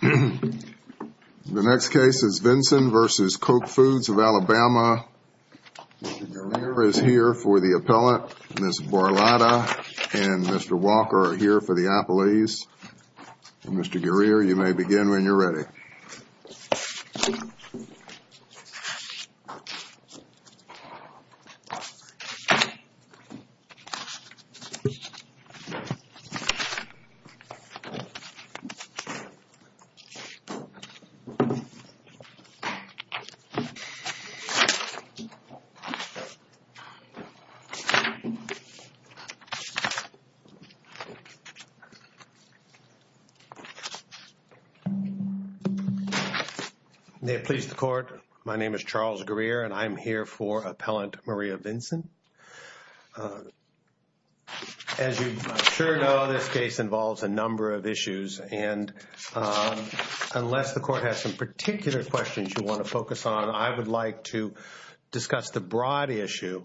The next case is Vinson v. Koch Foods of Alabama. Mr. Guerrero is here for the appellate. Ms. Barlotta and Mr. Walker are here for the appellees. Mr. Guerrero, you may begin when you're ready. May it please the court, my name is Charles Guerrero and I'm here for appellant Maria Vinson. As you sure know, this case involves a number of issues and unless the court has some particular questions you want to focus on, I would like to discuss the broad issue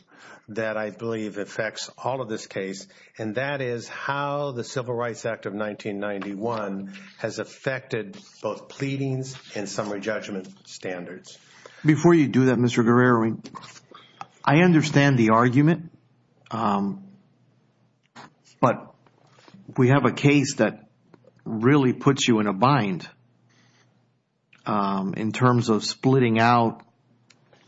that I believe affects all of this case and that is how the Civil Rights Act of 1991 has affected both pleadings and summary judgment standards. Before you do that, Mr. Guerrero, I understand the argument, but we have a case that really puts you in a bind in terms of splitting out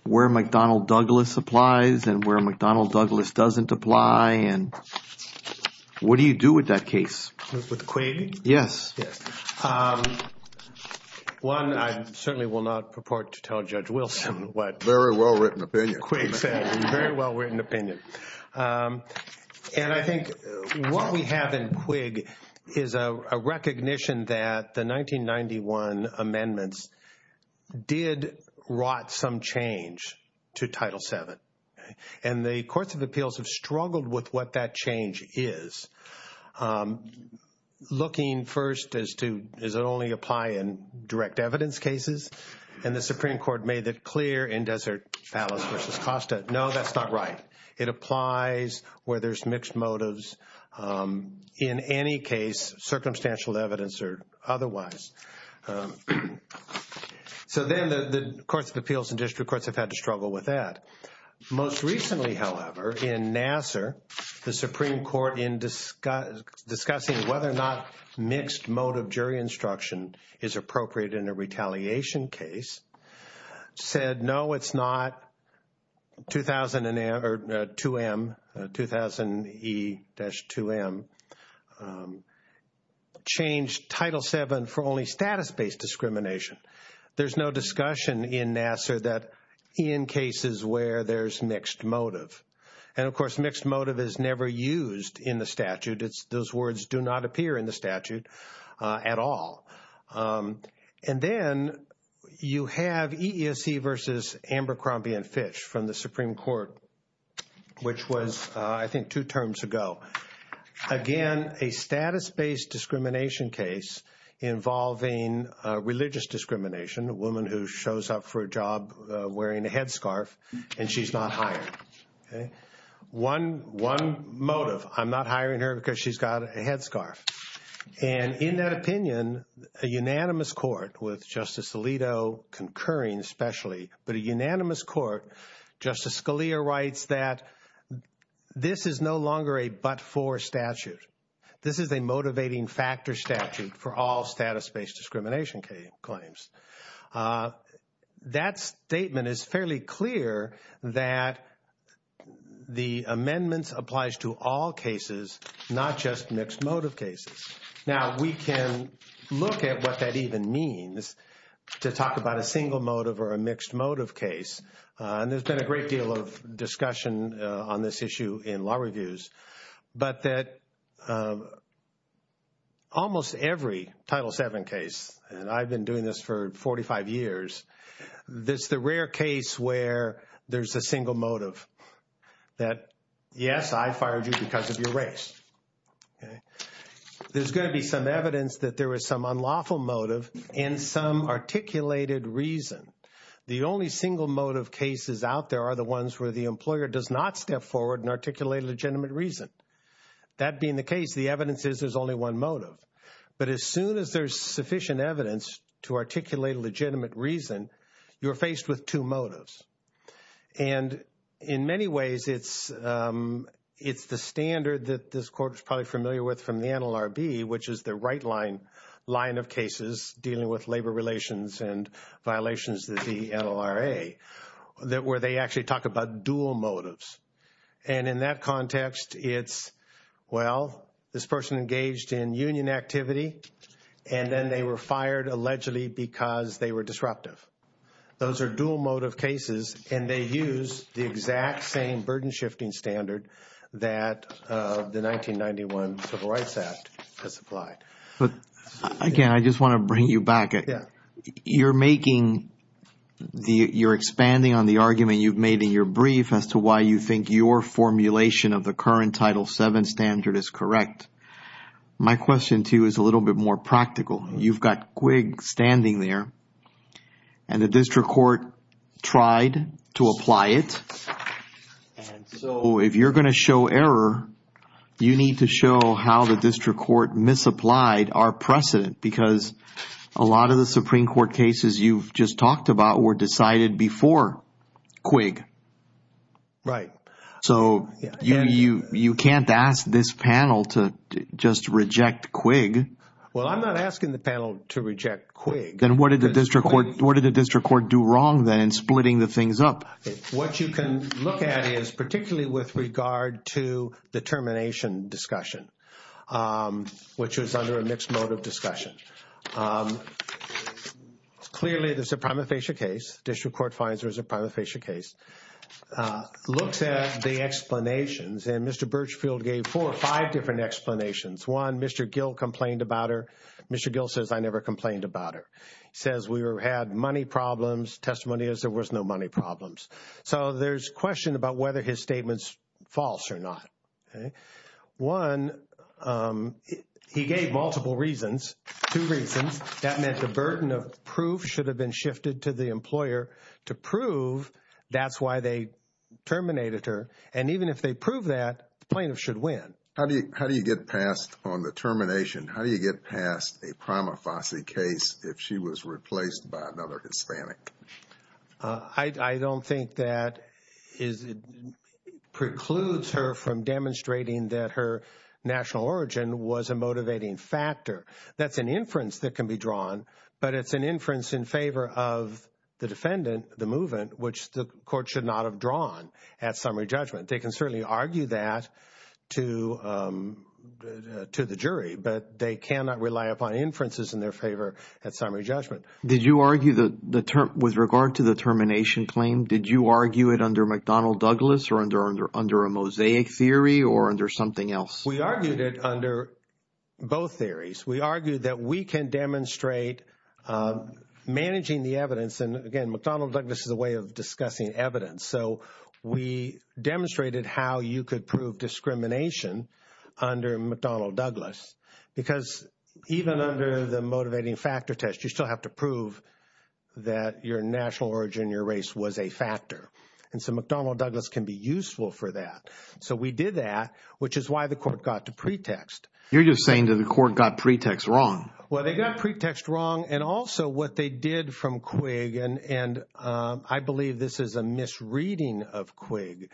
where McDonnell Douglas applies and where McDonnell Douglas doesn't apply and what do you do with that case? With the claim? Yes. One, I certainly will not purport to tell Judge Wilson what Quigg said. Very well written opinion. And I think what we have in Quigg is a recognition that the 1991 amendments did rot some change to Title VII and the courts of appeals have struggled with what that change is. Looking first as to does it only apply in direct evidence cases and the Supreme Court made that clear in Desert Palace v. Costa. No, that's not right. It applies where there's mixed motives in any case, circumstantial evidence or otherwise. So then the courts of appeals and district courts have had to struggle with that. Most recently, however, in Nassar, the Supreme Court in discussing whether or not mixed motive jury instruction is appropriate in a retaliation case said, no, it's not. 2000 E-2M changed Title VII for only status-based discrimination. There's no discussion in Nassar that in cases where there's mixed motive. And, of course, mixed motive is never used in the statute. Those words do not appear in the statute at all. And then you have EESC v. Amber Crombie and Fitch from the Supreme Court, which was, I think, two terms ago. Again, a status-based discrimination case involving religious discrimination, a woman who shows up for a job wearing a headscarf and she's not hired. One motive, I'm not hiring her because she's got a headscarf. And in that opinion, a unanimous court with Justice Alito concurring especially, but a unanimous court, Justice Scalia writes that this is no longer a but-for statute. This is a motivating factor statute for all status-based discrimination claims. That statement is fairly clear that the amendments applies to all cases, not just mixed motive cases. Now, we can look at what that even means to talk about a single motive or a mixed motive case. And there's been a great deal of discussion on this issue in law reviews. But that almost every Title VII case, and I've been doing this for 45 years, this is the rare case where there's a single motive that, yes, I fired you because of your race. There's going to be some evidence that there was some unlawful motive and some articulated reason. The only single motive cases out there are the ones where the employer does not step forward and articulate a legitimate reason. That being the case, the evidence is there's only one motive. But as soon as there's sufficient evidence to articulate a legitimate reason, you're faced with two motives. And in many ways, it's the standard that this court is probably familiar with from the NLRB, which is the right line of cases dealing with labor relations and violations of the NLRA, where they actually talk about dual motives. And in that context, it's, well, this person engaged in union activity, and then they were fired allegedly because they were disruptive. Those are dual motive cases, and they use the exact same burden-shifting standard that the 1991 Civil Rights Act has applied. But again, I just want to bring you back. You're expanding on the argument you've made in your brief as to why you think your formulation of the current Title VII standard is correct. My question to you is a little bit more practical. You've got Quigg standing there, and the district court tried to apply it. And so if you're going to show error, you need to show how the district court misapplied our precedent, because a lot of the Supreme Court cases you've just talked about were decided before Quigg. Right. So you can't ask this panel to just reject Quigg. Well, I'm not asking the panel to reject Quigg. Then what did the district court do wrong then in splitting the things up? What you can look at is, particularly with regard to the termination discussion, which was under a mixed motive discussion, clearly there's a prima facie case. District court finds there's a prima facie case. Looks at the explanations, and Mr. Birchfield gave four or five different explanations. One, Mr. Gill complained about her. Mr. Gill says, I never complained about her. He says, we had money problems. Testimony is there was no money problems. So there's question about whether his statement's false or not. One, he gave multiple reasons, two reasons. That meant the burden of proof should have been shifted to the employer to prove that's why they terminated her. And even if they prove that, the plaintiff should win. How do you get past on the termination, how do you get past a prima facie case if she was replaced by another Hispanic? I don't think that precludes her from demonstrating that her national origin was a motivating factor. That's an inference that can be drawn, but it's an inference in favor of the defendant, the movement, which the court should not have drawn at summary judgment. They can certainly argue that to the jury, but they cannot rely upon inferences in their favor at summary judgment. Did you argue with regard to the termination claim, did you argue it under McDonnell-Douglas or under a mosaic theory or under something else? We argued it under both theories. We argued that we can demonstrate managing the evidence, and again, McDonnell-Douglas is a way of discussing evidence. So we demonstrated how you could prove discrimination under McDonnell-Douglas because even under the motivating factor test, you still have to prove that your national origin, your race was a factor. And so McDonnell-Douglas can be useful for that. So we did that, which is why the court got to pretext. You're just saying that the court got pretext wrong. Well, they got pretext wrong, and also what they did from Quigg, and I believe this is a misreading of Quigg.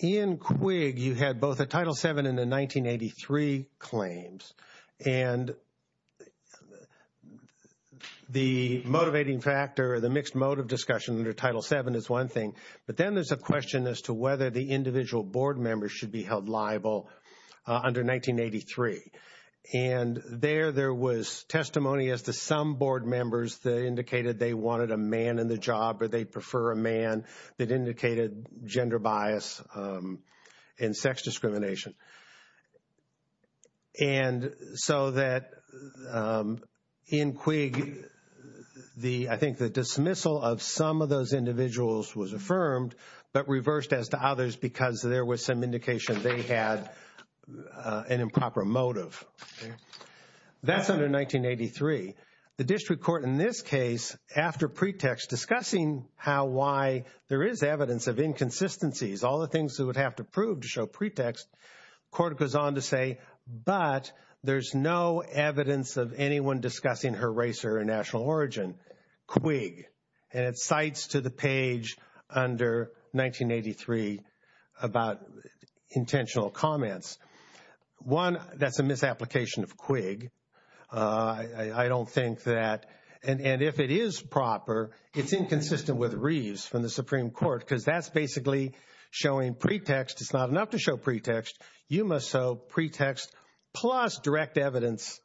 In Quigg, you had both a Title VII and a 1983 claims. And the motivating factor, the mixed motive discussion under Title VII is one thing, but then there's a question as to whether the individual board members should be held liable under 1983. And there, there was testimony as to some board members that indicated they wanted a man in the job or they prefer a man that indicated gender bias and sex discrimination. And so that in Quigg, I think the dismissal of some of those individuals was affirmed, but reversed as to others because there was some indication they had an improper motive. That's under 1983. The district court in this case, after pretext discussing how, why there is evidence of inconsistencies, all the things that would have to prove to show pretext, court goes on to say, but there's no evidence of anyone discussing her race or her national origin. Quigg, and it cites to the page under 1983 about intentional comments. One, that's a misapplication of Quigg. I don't think that, and if it is proper, it's inconsistent with Reeves from the Supreme Court because that's basically showing pretext. It's not enough to show pretext. You must show pretext plus direct evidence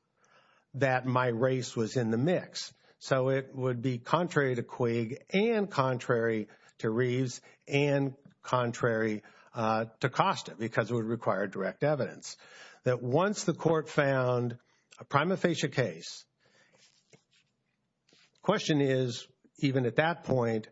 that my race was in the mix. So it would be contrary to Quigg and contrary to Reeves and contrary to Costa because it would require direct evidence. That once the court found a prima facie case, the question is, even at that point,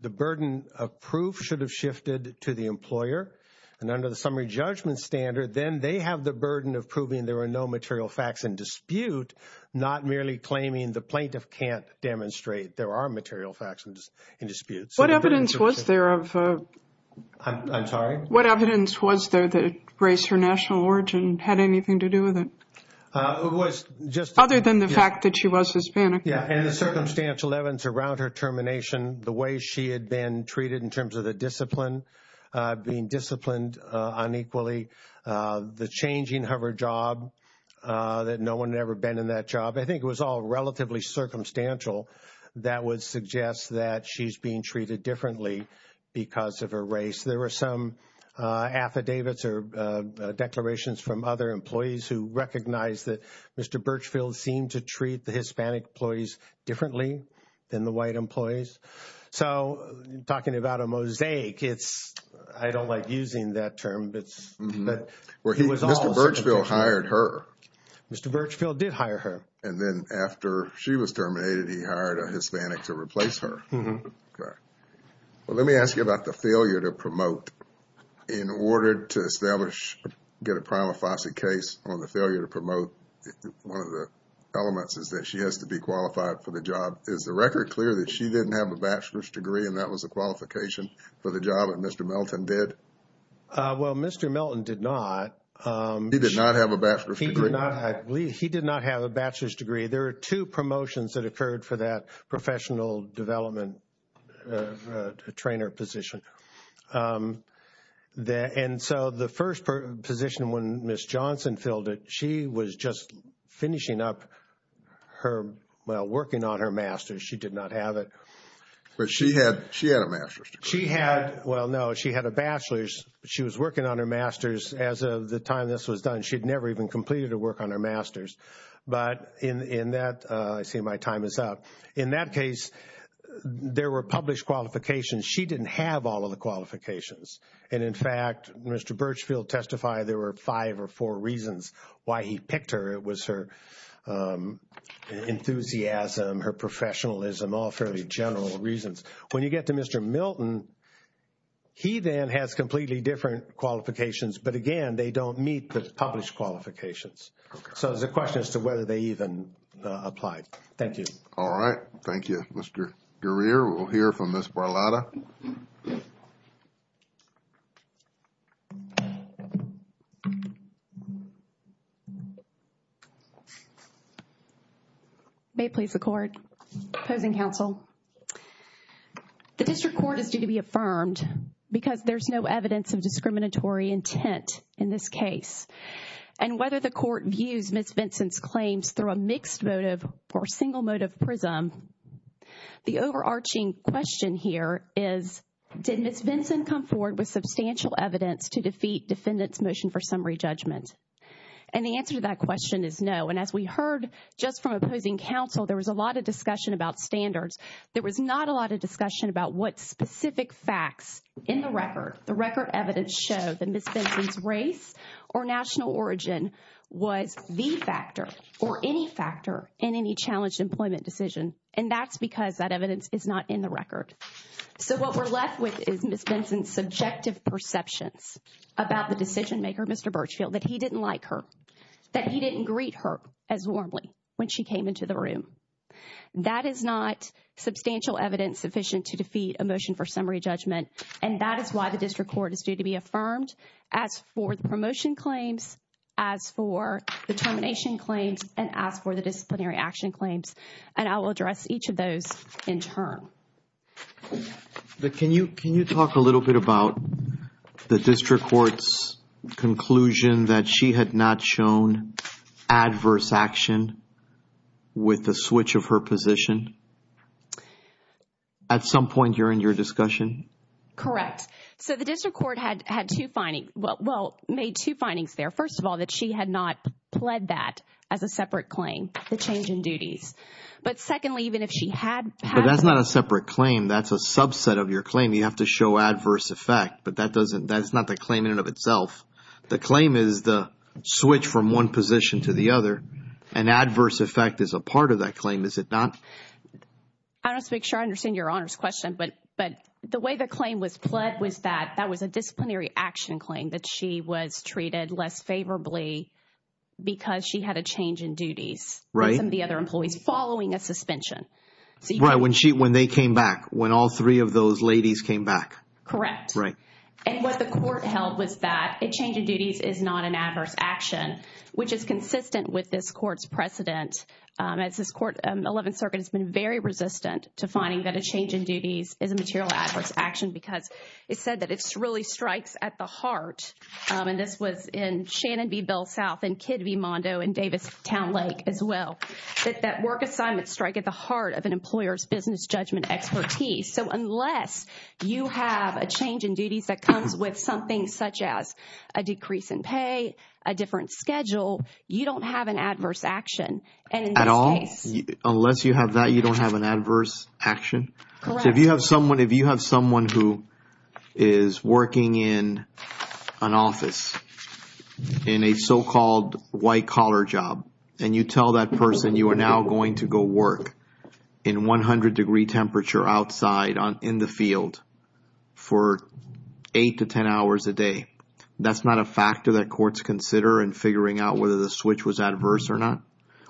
the burden of proof should have shifted to the employer. And under the summary judgment standard, then they have the burden of proving there are no material facts in dispute, not merely claiming the plaintiff can't demonstrate there are material facts in dispute. What evidence was there of – I'm sorry? What evidence was there that race or national origin had anything to do with it? It was just – Other than the fact that she was Hispanic. Yeah, and the circumstantial evidence around her termination, the way she had been treated in terms of the discipline, being disciplined unequally, the changing of her job, that no one had ever been in that job. I think it was all relatively circumstantial. That would suggest that she's being treated differently because of her race. There were some affidavits or declarations from other employees who recognized that Mr. Birchfield seemed to treat the Hispanic employees differently than the white employees. So, talking about a mosaic, it's – I don't like using that term, but he was all circumstantial. Mr. Birchfield hired her. Mr. Birchfield did hire her. And then after she was terminated, he hired a Hispanic to replace her. Mm-hmm. Okay. Well, let me ask you about the failure to promote. In order to establish – get a prima facie case on the failure to promote, one of the elements is that she has to be qualified for the job. Is the record clear that she didn't have a bachelor's degree and that was a qualification for the job that Mr. Melton did? Well, Mr. Melton did not. He did not have a bachelor's degree. He did not have a bachelor's degree. There are two promotions that occurred for that professional development trainer position. And so the first position when Ms. Johnson filled it, she was just finishing up her – well, working on her master's. She did not have it. But she had a master's degree. She had – well, no, she had a bachelor's. She was working on her master's. As of the time this was done, she had never even completed her work on her master's. But in that – I see my time is up. In that case, there were published qualifications. She didn't have all of the qualifications. And, in fact, Mr. Birchfield testified there were five or four reasons why he picked her. It was her enthusiasm, her professionalism, all fairly general reasons. When you get to Mr. Melton, he then has completely different qualifications. But, again, they don't meet the published qualifications. So it's a question as to whether they even applied. Thank you. All right. Thank you. All right. Mr. Gurrier, we'll hear from Ms. Barlotta. May it please the Court. Opposing counsel. The district court is due to be affirmed because there's no evidence of discriminatory intent in this case. And whether the Court views Ms. Vinson's claims through a mixed motive or single motive prism, the overarching question here is, did Ms. Vinson come forward with substantial evidence to defeat defendants' motion for summary judgment? And the answer to that question is no. And as we heard just from opposing counsel, there was a lot of discussion about standards. There was not a lot of discussion about what specific facts in the record, the record evidence showed that Ms. Vinson's race or national origin was the factor or any factor in any challenged employment decision. And that's because that evidence is not in the record. So what we're left with is Ms. Vinson's subjective perceptions about the decision maker, Mr. Birchfield, that he didn't like her, that he didn't greet her as warmly when she came into the room. That is not substantial evidence sufficient to defeat a motion for summary judgment. And that is why the District Court is due to be affirmed as for the promotion claims, as for the termination claims, and as for the disciplinary action claims. And I will address each of those in turn. But can you talk a little bit about the District Court's conclusion that she had not shown adverse action with the switch of her position? At some point during your discussion? Correct. So the District Court had two findings. Well, made two findings there. First of all, that she had not pled that as a separate claim, the change in duties. But secondly, even if she had. But that's not a separate claim. That's a subset of your claim. You have to show adverse effect. But that's not the claim in and of itself. The claim is the switch from one position to the other. And adverse effect is a part of that claim, is it not? I don't speak. I understand your Honor's question. But the way the claim was pled was that that was a disciplinary action claim, that she was treated less favorably because she had a change in duties. Right. Some of the other employees following a suspension. Right. When they came back, when all three of those ladies came back. Correct. Right. And what the Court held was that a change in duties is not an adverse action, which is consistent with this Court's precedent. As this 11th Circuit has been very resistant to finding that a change in duties is a material adverse action because it said that it really strikes at the heart. And this was in Shannon v. Bell South and Kidd v. Mondo and Davis Town Lake as well. That that work assignment strike at the heart of an employer's business judgment expertise. So unless you have a change in duties that comes with something such as a decrease in pay, a different schedule, you don't have an adverse action. At all? Unless you have that, you don't have an adverse action? Correct. So if you have someone who is working in an office, in a so-called white collar job, and you tell that person you are now going to go work in 100 degree temperature outside in the field for 8 to 10 hours a day, that's not a factor that courts consider in figuring out whether the switch was adverse or not?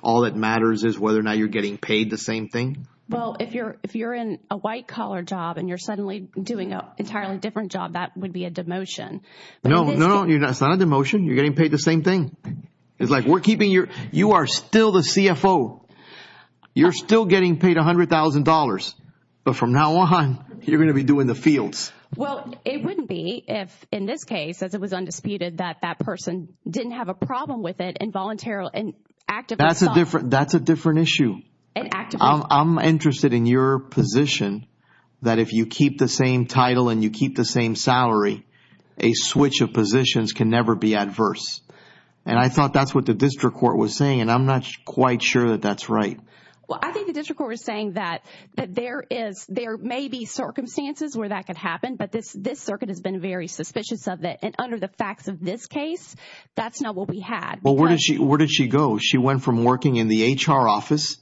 All that matters is whether or not you are getting paid the same thing? Well, if you are in a white collar job and you are suddenly doing an entirely different job, that would be a demotion. No, no, no. It's not a demotion. You are getting paid the same thing. It's like you are still the CFO. You are still getting paid $100,000. But from now on, you are going to be doing the fields. Well, it wouldn't be if in this case, as it was undisputed, that that person didn't have a problem with it and voluntarily and actively sought. That's a different issue. I'm interested in your position that if you keep the same title and you keep the same salary, a switch of positions can never be adverse. And I thought that's what the district court was saying, and I'm not quite sure that that's right. Well, I think the district court was saying that there may be circumstances where that could happen, but this circuit has been very suspicious of it. And under the facts of this case, that's not what we had. Well, where did she go? She went from working in the HR office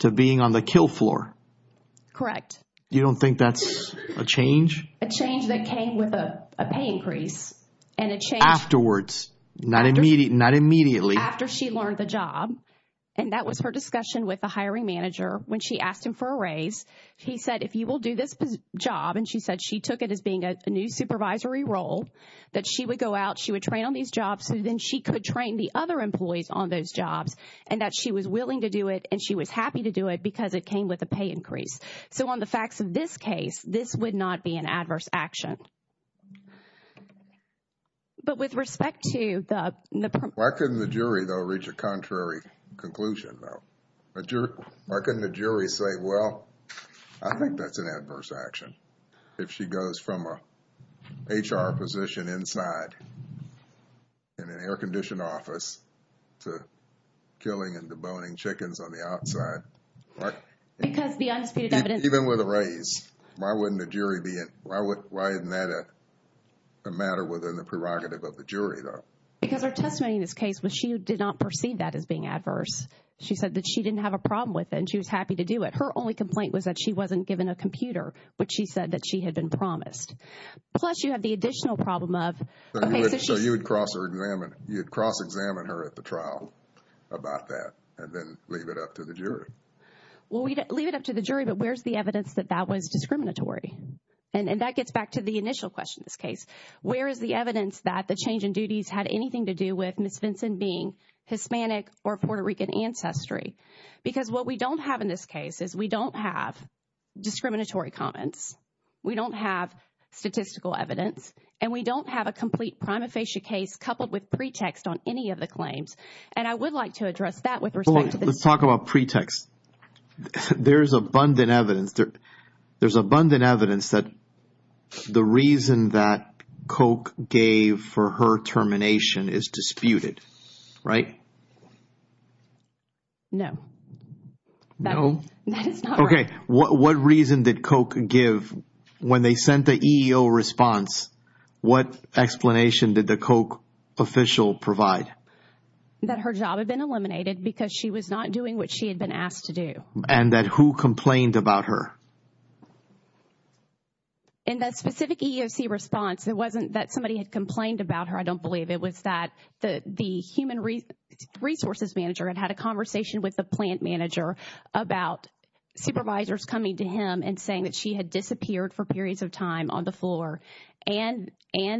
to being on the kill floor. Correct. You don't think that's a change? A change that came with a pay increase. Afterwards, not immediately. After she learned the job, and that was her discussion with the hiring manager. When she asked him for a raise, he said, if you will do this job, and she said she took it as being a new supervisory role, that she would go out, she would train on these jobs, and then she could train the other employees on those jobs, and that she was willing to do it and she was happy to do it because it came with a pay increase. So on the facts of this case, this would not be an adverse action. But with respect to the – Why couldn't the jury, though, reach a contrary conclusion, though? Why couldn't the jury say, well, I think that's an adverse action, if she goes from an HR position inside in an air conditioned office to killing and deboning chickens on the outside? Because the undisputed evidence – Even with a raise, why wouldn't the jury be – why isn't that a matter within the prerogative of the jury, though? Because her testimony in this case was she did not perceive that as being adverse. She said that she didn't have a problem with it and she was happy to do it. Her only complaint was that she wasn't given a computer, which she said that she had been promised. Plus, you have the additional problem of – So you would cross-examine her at the trial about that and then leave it up to the jury? Well, we'd leave it up to the jury, but where's the evidence that that was discriminatory? And that gets back to the initial question in this case. Where is the evidence that the change in duties had anything to do with Ms. Vinson being Hispanic or of Puerto Rican ancestry? Because what we don't have in this case is we don't have discriminatory comments, we don't have statistical evidence, and we don't have a complete prima facie case coupled with pretext on any of the claims. And I would like to address that with respect to the – Let's talk about pretext. There is abundant evidence. There's abundant evidence that the reason that Koch gave for her termination is disputed, right? No. No? That is not right. Okay. What reason did Koch give when they sent the EEO response? What explanation did the Koch official provide? That her job had been eliminated because she was not doing what she had been asked to do. And that who complained about her? In that specific EEO response, it wasn't that somebody had complained about her, I don't believe. It was that the human resources manager had had a conversation with the plant manager about supervisors coming to him and saying that she had disappeared for periods of time on the floor and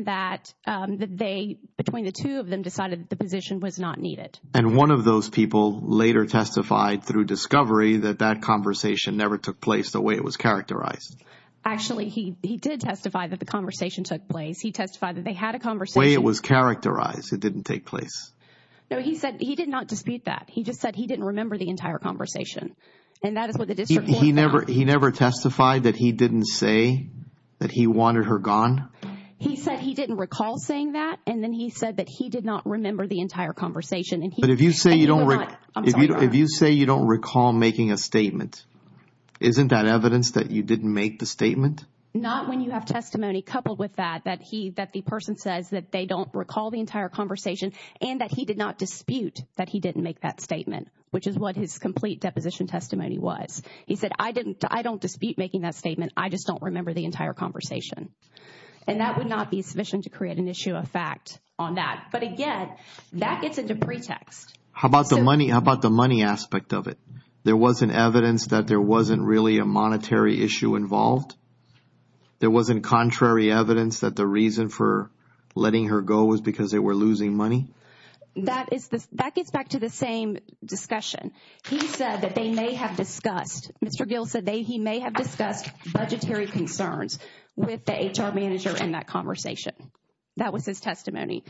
that they, between the two of them, decided that the position was not needed. And one of those people later testified through discovery that that conversation never took place the way it was characterized. Actually, he did testify that the conversation took place. He testified that they had a conversation – The way it was characterized. It didn't take place. No, he said he did not dispute that. He just said he didn't remember the entire conversation. And that is what the district – He never testified that he didn't say that he wanted her gone? He said he didn't recall saying that. And then he said that he did not remember the entire conversation. But if you say you don't recall making a statement, isn't that evidence that you didn't make the statement? Not when you have testimony coupled with that, that the person says that they don't recall the entire conversation and that he did not dispute that he didn't make that statement, which is what his complete deposition testimony was. He said, I don't dispute making that statement. I just don't remember the entire conversation. And that would not be sufficient to create an issue of fact on that. But, again, that gets into pretext. How about the money aspect of it? There wasn't evidence that there wasn't really a monetary issue involved? There wasn't contrary evidence that the reason for letting her go was because they were losing money? That gets back to the same discussion. He said that they may have discussed – the HR manager in that conversation. That was his testimony.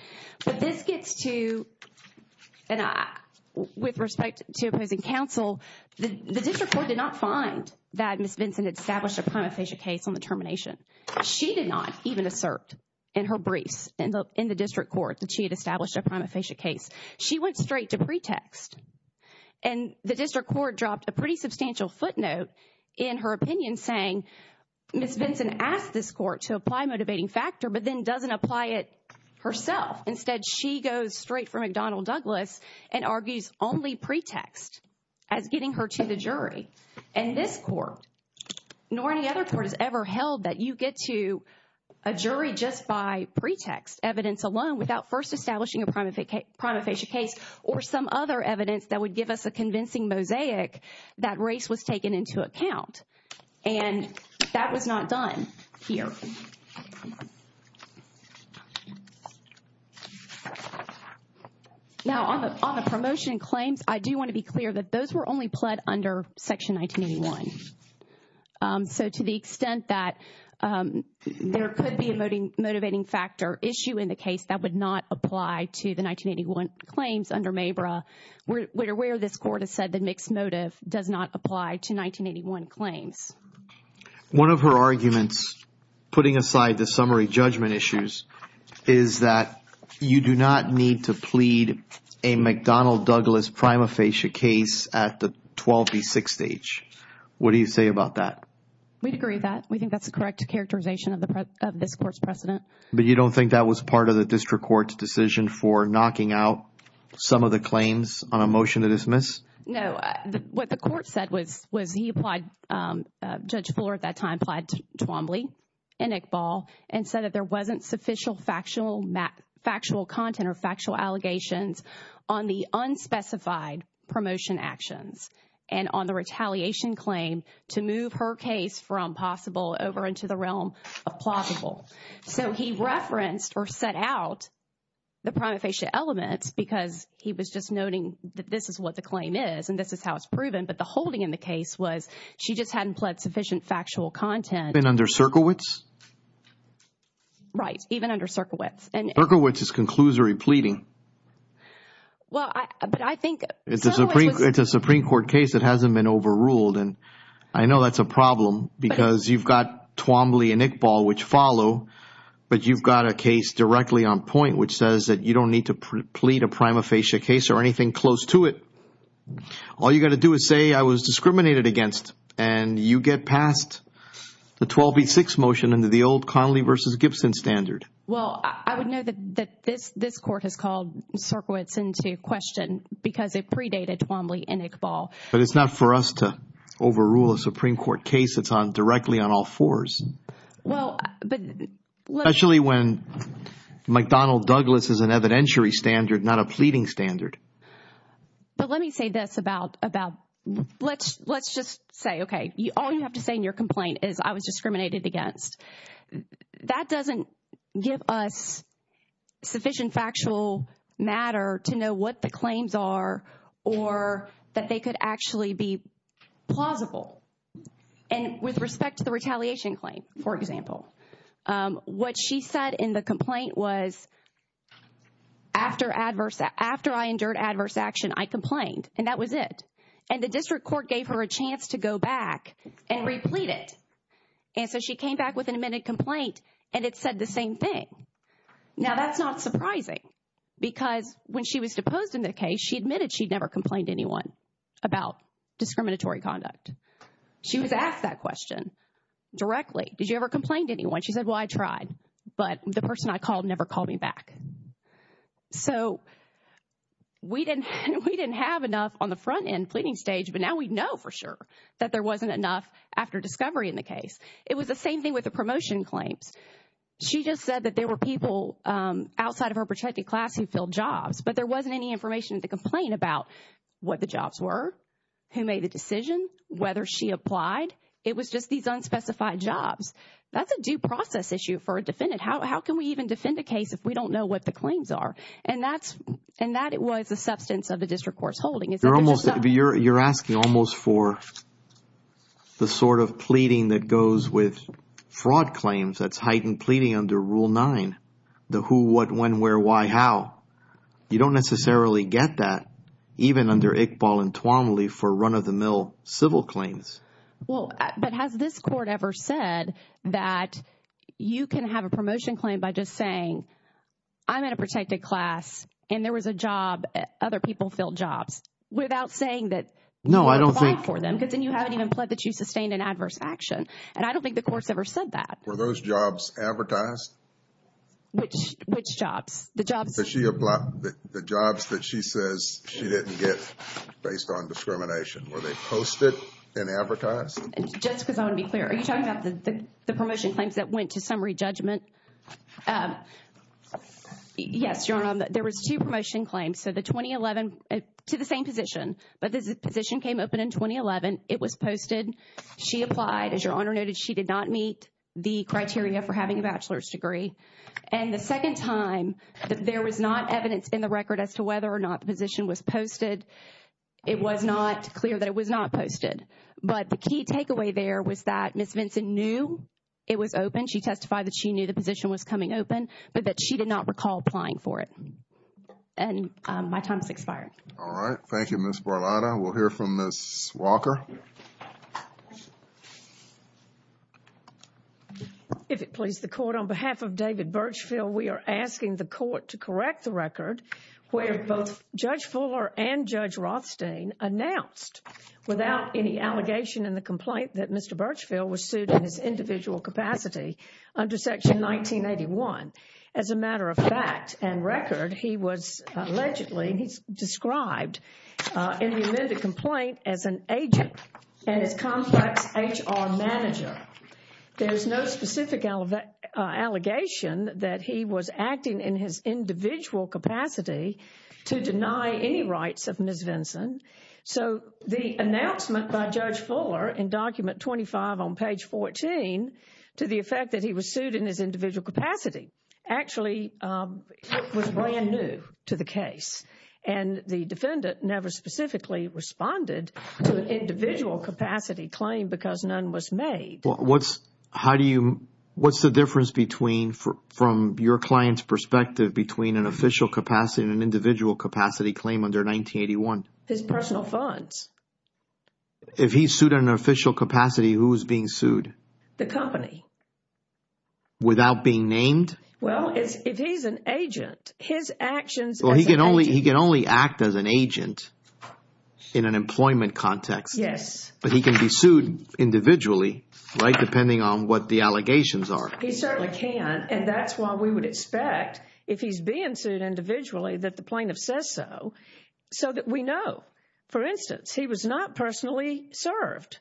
But this gets to – and with respect to opposing counsel, the district court did not find that Ms. Vinson had established a prima facie case on the termination. She did not even assert in her briefs in the district court that she had established a prima facie case. She went straight to pretext. And the district court dropped a pretty substantial footnote in her opinion saying, Ms. Vinson asked this court to apply motivating factor but then doesn't apply it herself. Instead, she goes straight for McDonnell Douglas and argues only pretext as getting her to the jury. And this court nor any other court has ever held that you get to a jury just by pretext, evidence alone, without first establishing a prima facie case or some other evidence that would give us a convincing mosaic that race was taken into account. And that was not done here. Now, on the promotion claims, I do want to be clear that those were only pled under Section 1981. So to the extent that there could be a motivating factor issue in the case, that would not apply to the 1981 claims under MABRA where this court has said that mixed motive does not apply to 1981 claims. One of her arguments putting aside the summary judgment issues is that you do not need to plead a McDonnell Douglas prima facie case at the 12B6 stage. What do you say about that? We'd agree with that. We think that's the correct characterization of this court's precedent. But you don't think that was part of the district court's decision for knocking out some of the claims on a motion to dismiss? No. What the court said was he applied, Judge Fuller at that time applied to Twombly and Iqbal and said that there wasn't sufficient factual content or factual allegations on the unspecified promotion actions and on the retaliation claim to move her case from possible over into the realm of plausible. So he referenced or set out the prima facie elements because he was just noting that this is what the claim is and this is how it's proven, but the holding in the case was she just hadn't pled sufficient factual content. Even under Cerkowicz? Right, even under Cerkowicz. Cerkowicz is conclusory pleading. But I think... It's a Supreme Court case that hasn't been overruled and I know that's a problem because you've got Twombly and Iqbal which follow, but you've got a case directly on point which says that you don't need to plead a prima facie case or anything close to it. All you've got to do is say I was discriminated against and you get past the 12B6 motion under the old Connolly versus Gibson standard. Well, I would know that this court has called Cerkowicz into question because it predated Twombly and Iqbal. But it's not for us to overrule a Supreme Court case. It's directly on all fours. Well, but... Especially when McDonnell Douglas is an evidentiary standard not a pleading standard. But let me say this about... Let's just say, okay, all you have to say in your complaint is I was discriminated against. That doesn't give us sufficient factual matter to know what the claims are or that they could actually be plausible. And with respect to the retaliation claim, for example, what she said in the complaint was after I endured adverse action, I complained, and that was it. And the district court gave her a chance to go back and replete it. And so she came back with an amended complaint and it said the same thing. Now, that's not surprising because when she was deposed in the case, she admitted she'd never complained to anyone about discriminatory conduct. She was asked that question directly. Did you ever complain to anyone? She said, well, I tried, but the person I called never called me back. So we didn't have enough on the front end pleading stage, but now we know for sure that there wasn't enough after discovery in the case. It was the same thing with the promotion claims. She just said that there were people outside of her protected class who filled jobs, but there wasn't any information in the complaint about what the jobs were, who made the decision, whether she applied. It was just these unspecified jobs. That's a due process issue for a defendant. How can we even defend a case if we don't know what the claims are? And that was the substance of the district court's holding. You're asking almost for the sort of pleading that goes with fraud claims, that's heightened pleading under Rule 9, the who, what, when, where, why, how. You don't necessarily get that even under Iqbal and Tuomly for run-of-the-mill civil claims. Well, but has this court ever said that you can have a promotion claim by just saying, I'm in a protected class, and there was a job, other people filled jobs, without saying that you applied for them? No, I don't think... Because then you haven't even pled that you sustained an adverse action. And I don't think the court's ever said that. Were those jobs advertised? Which jobs? The jobs that she says she didn't get based on discrimination. Were they posted and advertised? Just because I want to be clear, are you talking about the promotion claims that went to summary judgment? Yes, Your Honor, there was two promotion claims. So the 2011, to the same position, but the position came open in 2011. It was posted. She applied. As Your Honor noted, she did not meet the criteria for having a bachelor's degree. And the second time, there was not evidence in the record as to whether or not the position was posted. It was not clear that it was not posted. But the key takeaway there was that Ms. Vinson knew it was open. She testified that she knew the position was coming open, but that she did not recall applying for it. And my time has expired. All right. Thank you, Ms. Barlotta. We'll hear from Ms. Walker. If it please the Court, on behalf of David Birchfield, we are asking the Court to correct the record where both Judge Fuller and Judge Rothstein announced without any allegation in the complaint that Mr. Birchfield was sued in his individual capacity under Section 1981. As a matter of fact and record, he was allegedly described in the amended complaint as an agent and his complex HR manager. There is no specific allegation that he was acting in his individual capacity to deny any rights of Ms. Vinson. So the announcement by Judge Fuller in Document 25 on page 14 to the effect that he was sued in his individual capacity actually was brand new to the case. And the defendant never specifically responded to an individual capacity claim because none was made. What's the difference from your client's perspective between an official capacity and an individual capacity claim under 1981? His personal funds. If he's sued in an official capacity, who is being sued? The company. Without being named? Well, if he's an agent, his actions as an agent. He can only act as an agent in an employment context. Yes. But he can be sued individually, right, depending on what the allegations are. He certainly can, and that's why we would expect if he's being sued individually that the plaintiff says so, so that we know. For instance, he was not personally served.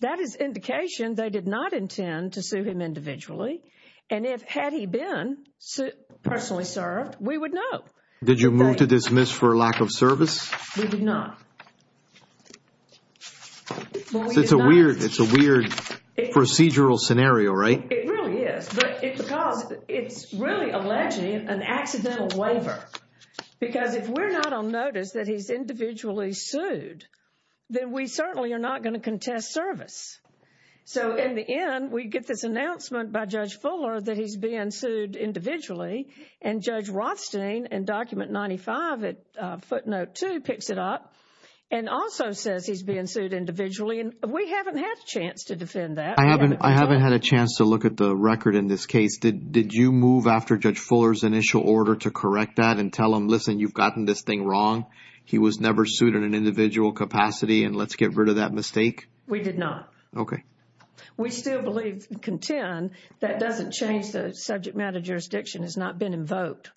That is indication they did not intend to sue him individually. And had he been personally served, we would know. Did you move to dismiss for lack of service? We did not. It's a weird procedural scenario, right? It really is. But it's because it's really alleging an accidental waiver because if we're not on notice that he's individually sued, then we certainly are not going to contest service. So in the end, we get this announcement by Judge Fuller that he's being sued individually, and Judge Rothstein in Document 95, Footnote 2, picks it up and also says he's being sued individually, and we haven't had a chance to defend that. I haven't had a chance to look at the record in this case. Did you move after Judge Fuller's initial order to correct that and tell him, listen, you've gotten this thing wrong, he was never sued in an individual capacity, and let's get rid of that mistake? We did not. Okay. We still believe and contend that doesn't change the subject matter jurisdiction has not been invoked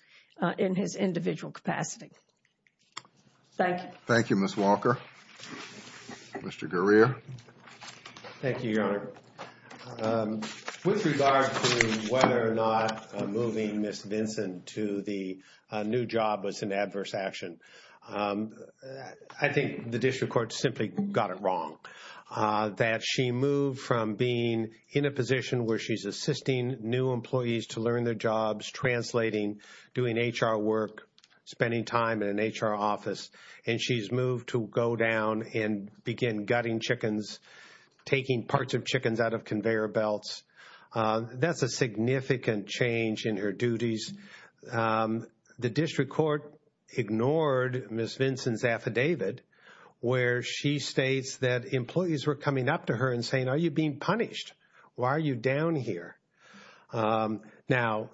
in his individual capacity. Thank you. Thank you, Ms. Walker. Mr. Gurria. Thank you, Your Honor. With regard to whether or not moving Ms. Vinson to the new job was an adverse action, I think the district court simply got it wrong. That she moved from being in a position where she's assisting new employees to learn their jobs, translating, doing HR work, spending time in an HR office, and she's moved to go down and begin gutting chickens, taking parts of chickens out of conveyor belts. That's a significant change in her duties. The district court ignored Ms. Vinson's affidavit where she states that employees were coming up to her and saying, are you being punished? Why are you down here? Now,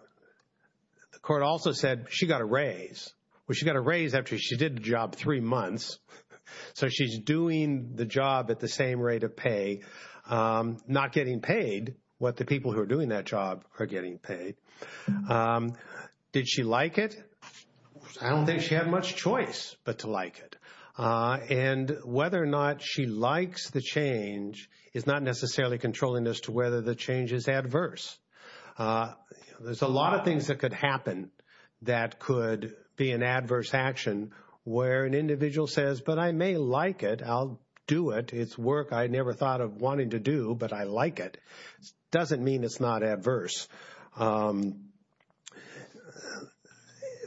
the court also said she got a raise. Well, she got a raise after she did the job three months, so she's doing the job at the same rate of pay, not getting paid what the people who are doing that job are getting paid. Did she like it? I don't think she had much choice but to like it. And whether or not she likes the change is not necessarily controlling as to whether the change is adverse. There's a lot of things that could happen that could be an adverse action where an individual says, but I may like it, I'll do it, it's work I never thought of wanting to do, but I like it. It doesn't mean it's not adverse.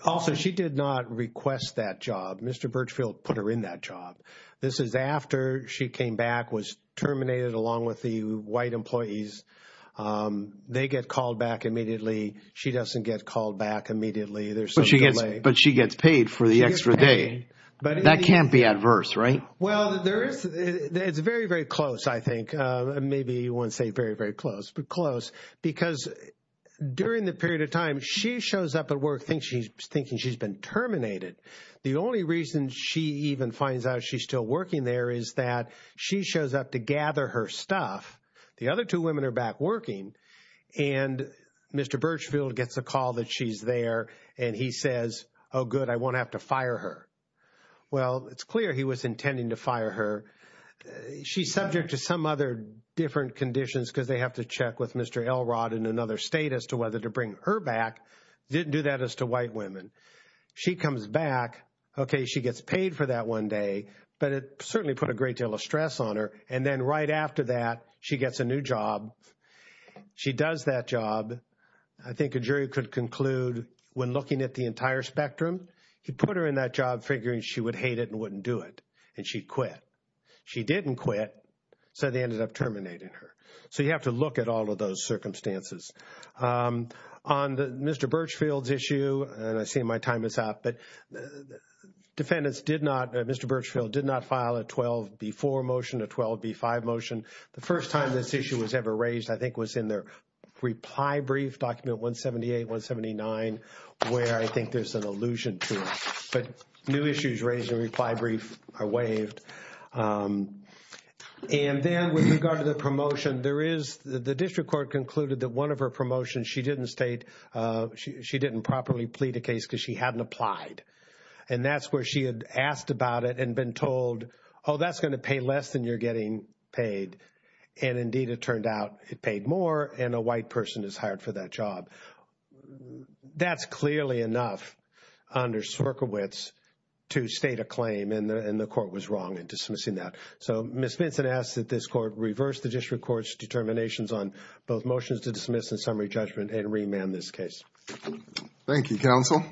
Also, she did not request that job. Mr. Birchfield put her in that job. This is after she came back, was terminated along with the white employees. They get called back immediately. She doesn't get called back immediately. But she gets paid for the extra day. That can't be adverse, right? Well, it's very, very close, I think. Maybe you wouldn't say very, very close, but close, because during the period of time she shows up at work thinking she's been terminated. The only reason she even finds out she's still working there is that she shows up to gather her stuff. The other two women are back working. And Mr. Birchfield gets a call that she's there, and he says, oh, good, I won't have to fire her. Well, it's clear he was intending to fire her. She's subject to some other different conditions because they have to check with Mr. Elrod in another state as to whether to bring her back. Didn't do that as to white women. She comes back. Okay, she gets paid for that one day, but it certainly put a great deal of stress on her. And then right after that, she gets a new job. She does that job. I think a jury could conclude when looking at the entire spectrum, he put her in that job figuring she would hate it and wouldn't do it, and she quit. She didn't quit, so they ended up terminating her. So you have to look at all of those circumstances. On Mr. Birchfield's issue, and I see my time is up, but defendants did not, Mr. Birchfield did not file a 12B4 motion, a 12B5 motion. The first time this issue was ever raised, I think, was in their reply brief, document 178, 179, where I think there's an allusion to it. But new issues raised in the reply brief are waived. And then with regard to the promotion, there is the district court concluded that one of her promotions, she didn't state she didn't properly plead the case because she hadn't applied. And that's where she had asked about it and been told, oh, that's going to pay less than you're getting paid. And indeed, it turned out it paid more, and a white person is hired for that job. That's clearly enough under Cerkiewicz to state a claim, and the court was wrong in dismissing that. So Ms. Vinson asks that this court reverse the district court's determinations on both motions to dismiss in summary judgment and remand this case. Thank you, counsel.